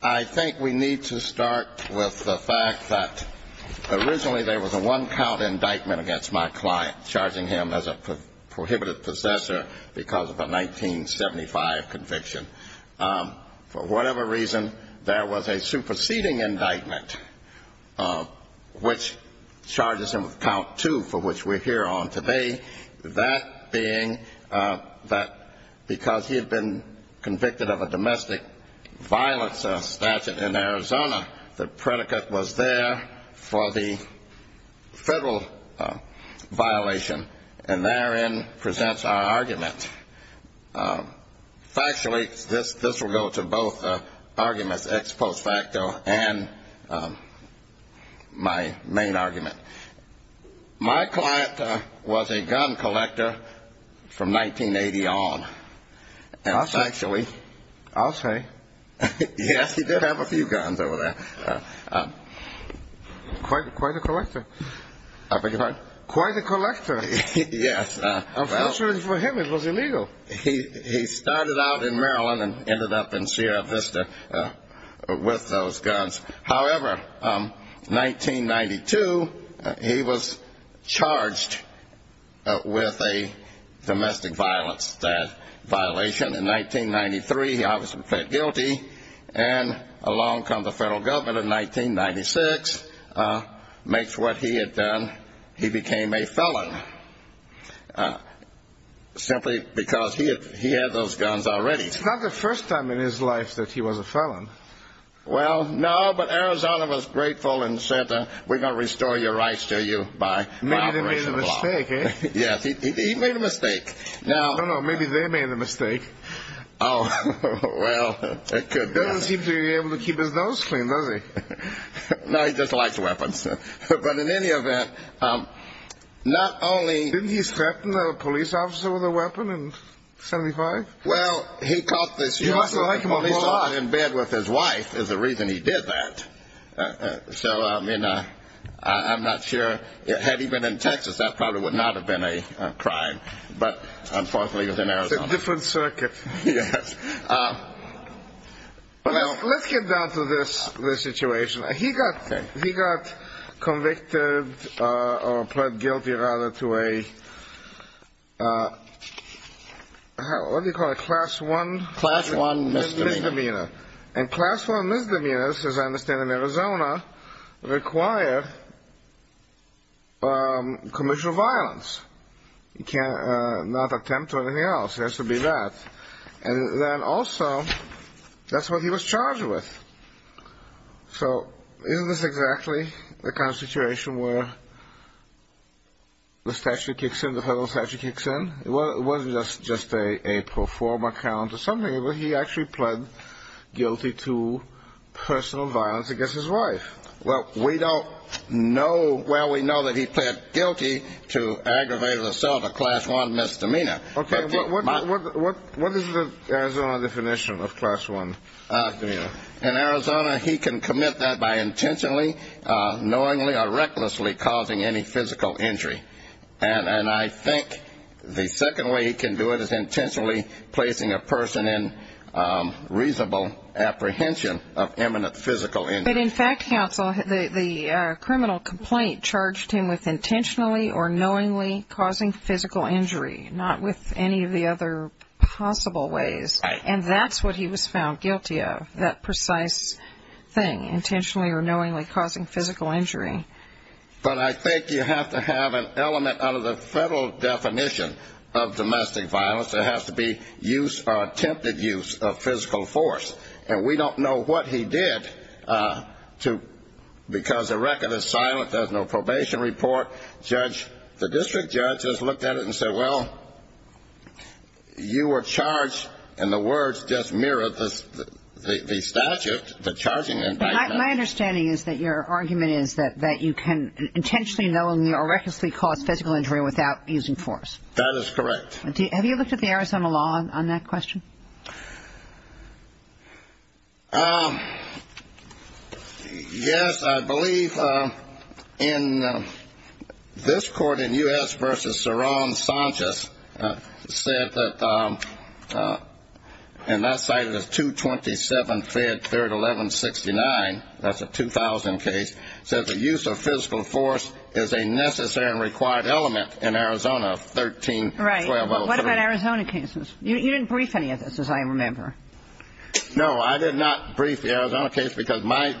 I think we need to start with the fact that originally there was a one count indictment against my client, charging him as a prohibited possessor because of a 1975 conviction. For whatever reason, there was a superseding indictment which charges him with count two for which we're here on today. That being that because he had been convicted of a domestic violence statute in Arizona, the predicate was there for the federal violation and therein presents our argument. Factually, this will go to both arguments ex post facto and my main argument. My client was a gun collector from 1980 on. I'll say. Yes, he did have a few guns over there. Quite a collector. I beg your pardon? Quite a collector. Yes. Unfortunately for him it was illegal. He started out in Maryland and ended up in Sierra Vista with those guns. However, 1992 he was charged with a domestic violence violation. He was fed guilty. And along comes the federal government in 1996, makes what he had done. He became a felon. Simply because he had those guns already. It's not the first time in his life that he was a felon. Well, no, but Arizona was grateful and said we're going to restore your rights to you. Maybe they made a mistake. Yes, he made a mistake. No, no, maybe they made a mistake. Oh, well, it could be. Doesn't seem to be able to keep his nose clean, does he? No, he just likes weapons. But in any event, not only Didn't he threaten a police officer with a weapon in 75? Well, he caught this young man in bed with his wife is the reason he did that. So, I mean, I'm not sure, had he been in Texas that probably would not have been a crime. But, unfortunately, it was in Arizona. It's a different circuit. Yes. Well, let's get down to this situation. He got convicted, or plead guilty, rather, to a What do you call it? Class one? Class one misdemeanor. Misdemeanor. And class one misdemeanors, as I understand in Arizona, require commercial violence. He cannot attempt anything else. It has to be that. And then, also, that's what he was charged with. So, isn't this exactly the kind of situation where the statute kicks in, the federal statute kicks in? It wasn't just a pro forma count or something. He actually pled guilty to personal violence against his wife. Well, we don't know. Well, we know that he pled guilty to aggravated assault or class one misdemeanor. Okay. What is the Arizona definition of class one misdemeanor? In Arizona, he can commit that by intentionally, knowingly, or recklessly causing any physical injury. And I think the second way he can do it is intentionally placing a person in reasonable apprehension of imminent physical injury. But, in fact, counsel, the criminal complaint charged him with intentionally or knowingly causing physical injury, not with any of the other possible ways. And that's what he was found guilty of, that precise thing, intentionally or knowingly causing physical injury. But I think you have to have an element under the federal definition of domestic violence. There has to be use or attempted use of physical force. And we don't know what he did because the record is silent. There's no probation report. The district judge just looked at it and said, well, you were charged. And the words just mirrored the statute, the charging indictment. My understanding is that your argument is that you can intentionally, knowingly, or recklessly cause physical injury without using force. That is correct. Have you looked at the Arizona law on that question? Yes, I believe in this court, in U.S. v. Saron Sanchez, said that, and that's cited as 227, fed. 1169. That's a 2000 case. So the use of physical force is a necessary and required element in Arizona, 13-1203. Right. What about Arizona cases? You didn't brief any of this, as I remember. No, I did not brief the Arizona case because my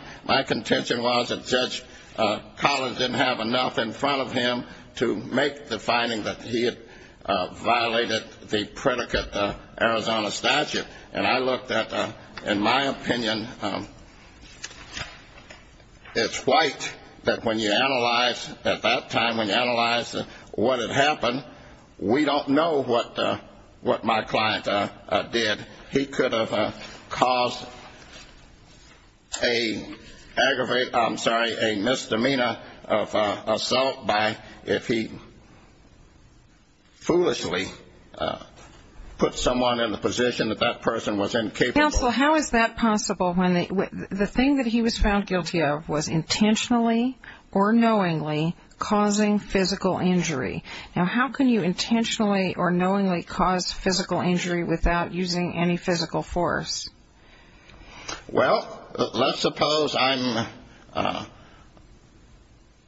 contention was that Judge Collins didn't have enough in front of him to make the finding that he had violated the predicate Arizona statute. And I looked at, in my opinion, it's white that when you analyze at that time, when you analyze what had happened, we don't know what my client did. He could have caused a aggravate, I'm sorry, a misdemeanor of assault by if he foolishly put someone in the position that that person was incapable of. Counsel, how is that possible when the thing that he was found guilty of was intentionally or knowingly causing physical injury? Now, how can you intentionally or knowingly cause physical injury without using any physical force? Well, let's suppose I'm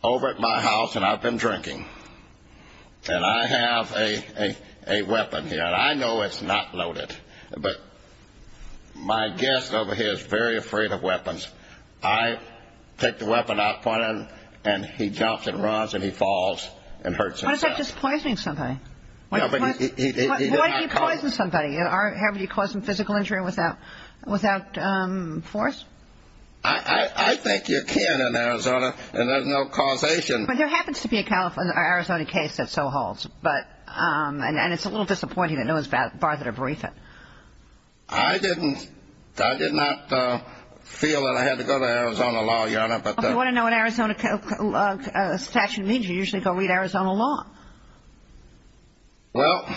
over at my house and I've been drinking, and I have a weapon here. And I know it's not loaded, but my guest over here is very afraid of weapons. I take the weapon out, point it at him, and he jumps and runs and he falls and hurts himself. Why is that just poisoning somebody? Why do you poison somebody? Have you caused them physical injury without force? I think you can in Arizona, and there's no causation. But there happens to be an Arizona case that so holds, and it's a little disappointing that no one's bothered to brief it. I did not feel that I had to go to Arizona law, Your Honor. If you want to know what Arizona statute means, you usually go read Arizona law. Well,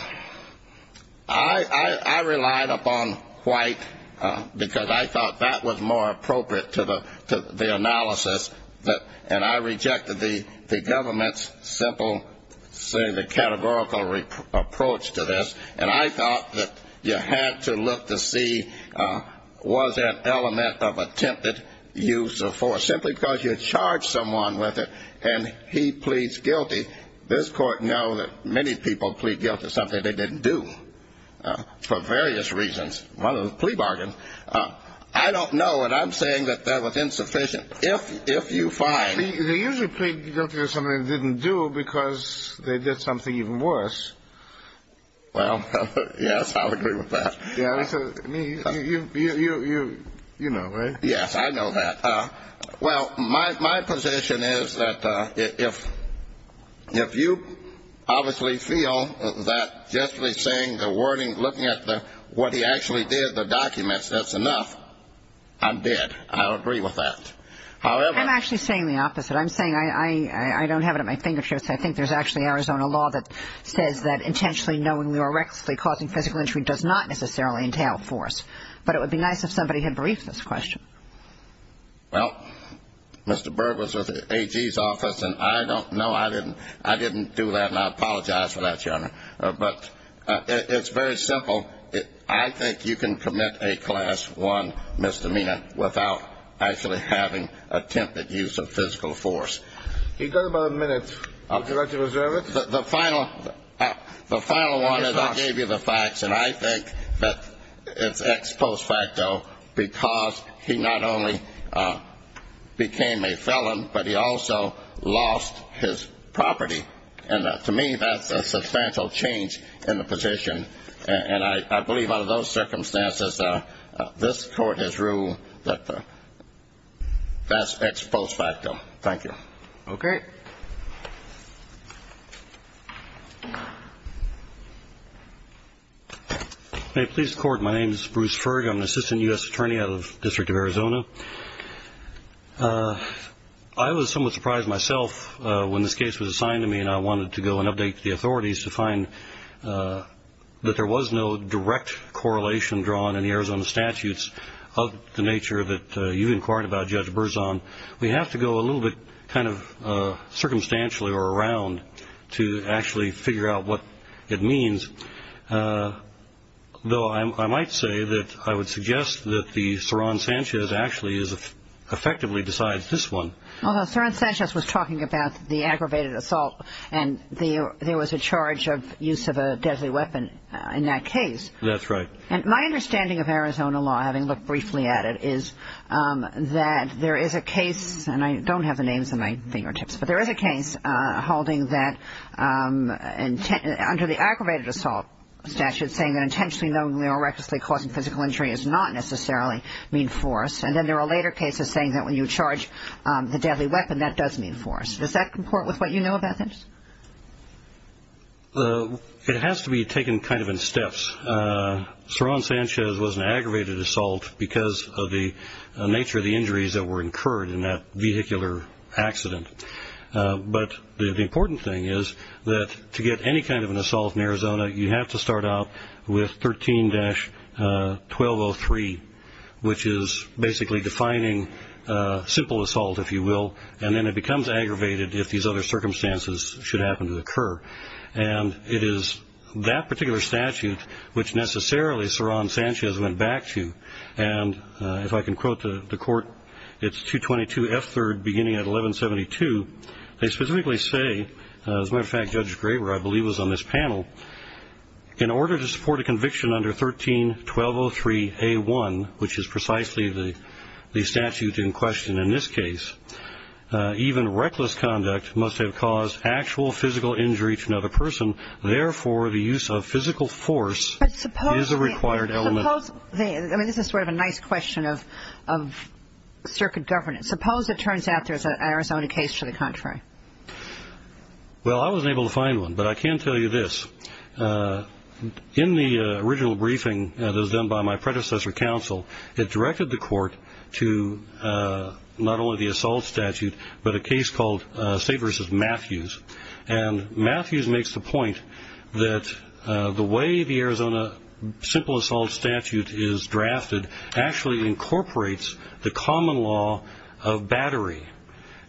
I relied upon white because I thought that was more appropriate to the analysis, and I rejected the government's simple categorical approach to this. And I thought that you had to look to see was there an element of attempted use of force. Simply because you charge someone with it and he pleads guilty, this court knows that many people plead guilty to something they didn't do for various reasons. One of them was plea bargains. I don't know, and I'm saying that that was insufficient. They usually plead guilty to something they didn't do because they did something even worse. Well, yes, I'll agree with that. You know, right? Yes, I know that. Well, my position is that if you obviously feel that just by saying the wording, looking at what he actually did, the documents, that's enough, I'm dead. I'll agree with that. I'm actually saying the opposite. I'm saying I don't have it at my fingertips. I think there's actually Arizona law that says that intentionally knowingly or recklessly causing physical injury does not necessarily entail force. But it would be nice if somebody had briefed this question. Well, Mr. Berg was with AG's office, and I don't know. I didn't do that, and I apologize for that, Your Honor. But it's very simple. I think you can commit a Class I misdemeanor without actually having attempted use of physical force. You've got about a minute. Would you like to reserve it? The final one is I gave you the facts, and I think that it's ex post facto because he not only became a felon, but he also lost his property. And to me, that's a substantial change in the position. And I believe out of those circumstances, this Court has ruled that that's ex post facto. Thank you. Okay. Hey, police court, my name is Bruce Ferg. I'm an assistant U.S. attorney out of the District of Arizona. I was somewhat surprised myself when this case was assigned to me, and I wanted to go and update the authorities to find that there was no direct correlation drawn in the Arizona statutes of the nature that you've inquired about, Judge Berzon. We have to go a little bit kind of circumstantially or around to actually figure out what it means, though I might say that I would suggest that the Soran Sanchez actually effectively decides this one. Well, Soran Sanchez was talking about the aggravated assault, and there was a charge of use of a deadly weapon in that case. That's right. And my understanding of Arizona law, having looked briefly at it, is that there is a case, and I don't have the names on my fingertips, but there is a case holding that under the aggravated assault statute saying that intentionally, knowingly or recklessly causing physical injury does not necessarily mean force, and then there are later cases saying that when you charge the deadly weapon, that does mean force. Does that comport with what you know about this? It has to be taken kind of in steps. Soran Sanchez was an aggravated assault because of the nature of the injuries that were incurred in that vehicular accident. But the important thing is that to get any kind of an assault in Arizona, you have to start out with 13-1203, which is basically defining simple assault, if you will, and then it becomes aggravated if these other circumstances should happen to occur. And it is that particular statute which necessarily Soran Sanchez went back to. And if I can quote the court, it's 222F3, beginning at 1172. They specifically say, as a matter of fact, Judge Graver, I believe, was on this panel, in order to support a conviction under 13-1203A1, which is precisely the statute in question in this case, even reckless conduct must have caused actual physical injury to another person. Therefore, the use of physical force is a required element. I mean, this is sort of a nice question of circuit governance. Suppose it turns out there's an Arizona case to the contrary. Well, I wasn't able to find one, but I can tell you this. In the original briefing that was done by my predecessor counsel, it directed the court to not only the assault statute, but a case called State v. Matthews. And Matthews makes the point that the way the Arizona simple assault statute is drafted actually incorporates the common law of battery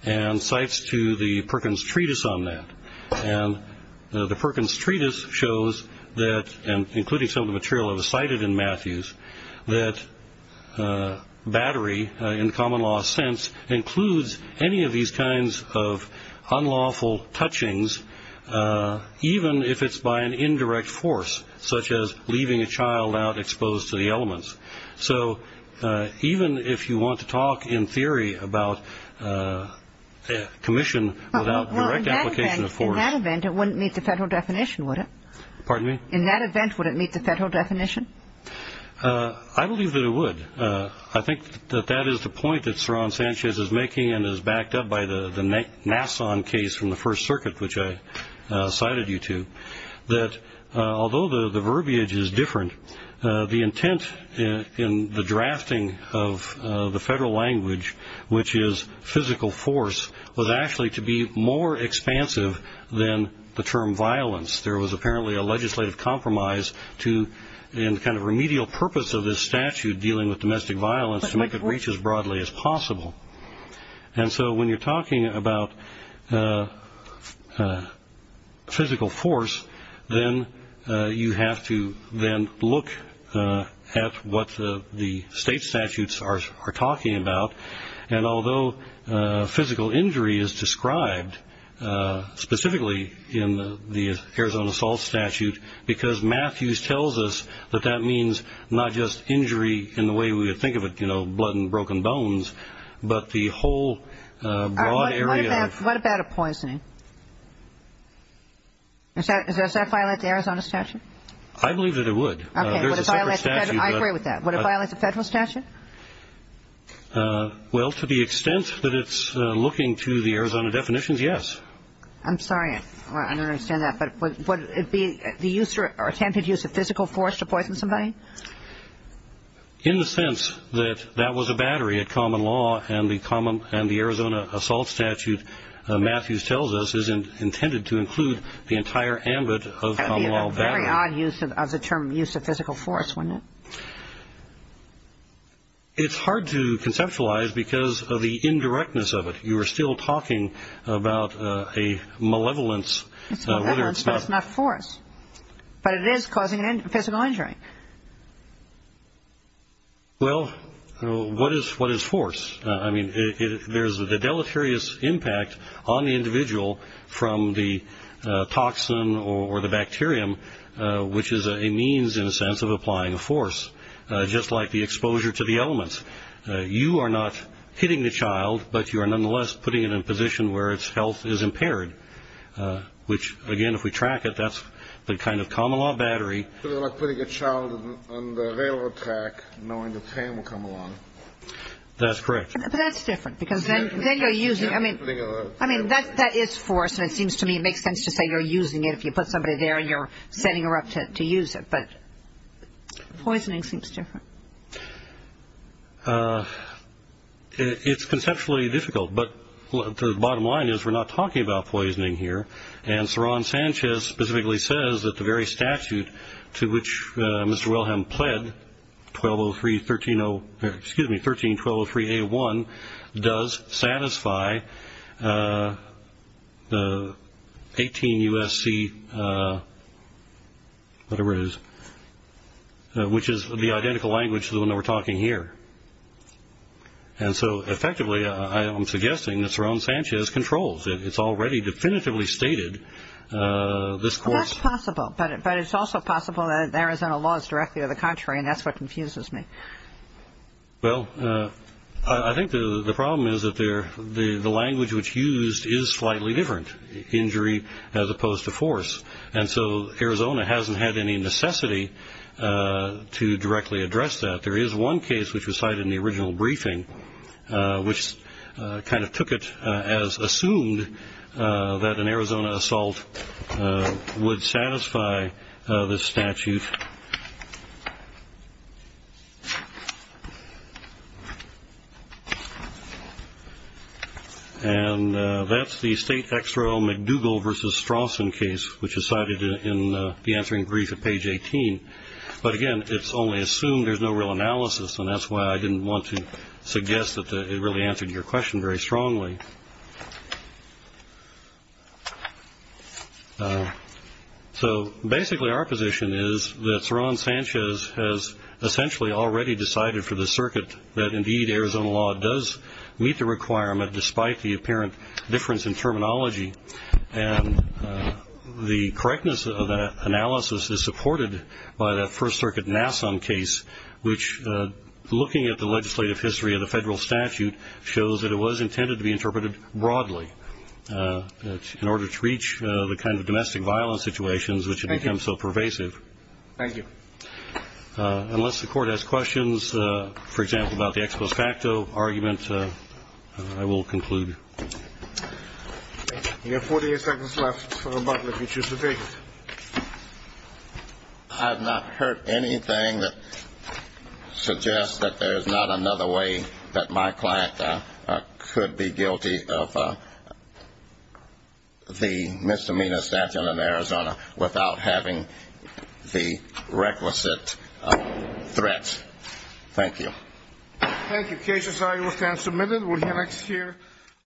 and cites to the Perkins Treatise on that. And the Perkins Treatise shows that, including some of the material that was cited in Matthews, that battery in common law sense includes any of these kinds of unlawful touchings, even if it's by an indirect force, such as leaving a child out exposed to the elements. So even if you want to talk in theory about commission without direct application of force. Well, in that event, it wouldn't meet the federal definition, would it? Pardon me? In that event, would it meet the federal definition? I believe that it would. I think that that is the point that Saron Sanchez is making and is backed up by the Nassau case from the First Circuit, which I cited you to, that although the verbiage is different, the intent in the drafting of the federal language, which is physical force, was actually to be more expansive than the term violence. There was apparently a legislative compromise in the kind of remedial purpose of this statute dealing with domestic violence to make it reach as broadly as possible. And so when you're talking about physical force, then you have to then look at what the state statutes are talking about. And although physical injury is described specifically in the Arizona assault statute, because Matthews tells us that that means not just injury in the way we would think of it, you know, blood and broken bones, but the whole broad area. What about a poisoning? Does that violate the Arizona statute? I believe that it would. Okay. I agree with that. Would it violate the federal statute? Well, to the extent that it's looking to the Arizona definitions, yes. I'm sorry. I don't understand that. But would it be the use or attempted use of physical force to poison somebody? In the sense that that was a battery at common law and the Arizona assault statute Matthews tells us is intended to include the entire ambit of common law battery. Very odd use of the term use of physical force, wouldn't it? It's hard to conceptualize because of the indirectness of it. You are still talking about a malevolence. It's malevolence, but it's not force. But it is causing physical injury. Well, what is force? I mean, there's a deleterious impact on the individual from the toxin or the bacterium, which is a means, in a sense, of applying a force, just like the exposure to the elements. You are not hitting the child, but you are nonetheless putting it in a position where its health is impaired, which, again, if we track it, that's the kind of common law battery. Like putting a child on the railroad track knowing the train will come along. That's correct. But that's different because then you're using it. I mean, that is force, and it seems to me it makes sense to say you're using it. If you put somebody there and you're setting her up to use it. But poisoning seems different. It's conceptually difficult, but the bottom line is we're not talking about poisoning here. And Saron Sanchez specifically says that the very statute to which Mr. Wilhelm pled, 1303A1, does satisfy the 18 U.S.C., whatever it is, which is the identical language to the one that we're talking here. And so, effectively, I'm suggesting that Saron Sanchez controls it. It's already definitively stated. Well, that's possible, but it's also possible that the Arizona law is directly to the contrary, and that's what confuses me. Well, I think the problem is that the language which is used is slightly different, injury as opposed to force. And so Arizona hasn't had any necessity to directly address that. There is one case which was cited in the original briefing, which kind of took it as assumed that an Arizona assault would satisfy this statute. And that's the state XRO McDougall v. Strawson case, which is cited in the answering brief at page 18. But, again, it's only assumed there's no real analysis, and that's why I didn't want to suggest that it really answered your question very strongly. So, basically, our position is that Saron Sanchez has essentially already decided for the circuit that, indeed, Arizona law does meet the requirement, despite the apparent difference in terminology. And the correctness of that analysis is supported by that First Circuit Nassau case, which, looking at the legislative history of the federal statute, shows that it was intended to be interpreted broadly in order to reach the kind of domestic violence situations which have become so pervasive. Thank you. Unless the Court has questions, for example, about the expo facto argument, I will conclude. You have 48 seconds left, Mr. Butler, if you choose to speak. I have not heard anything that suggests that there is not another way that my client could be guilty of the misdemeanor without having the requisite threats. Thank you. Thank you. Cases are now submitted. We'll hear next year.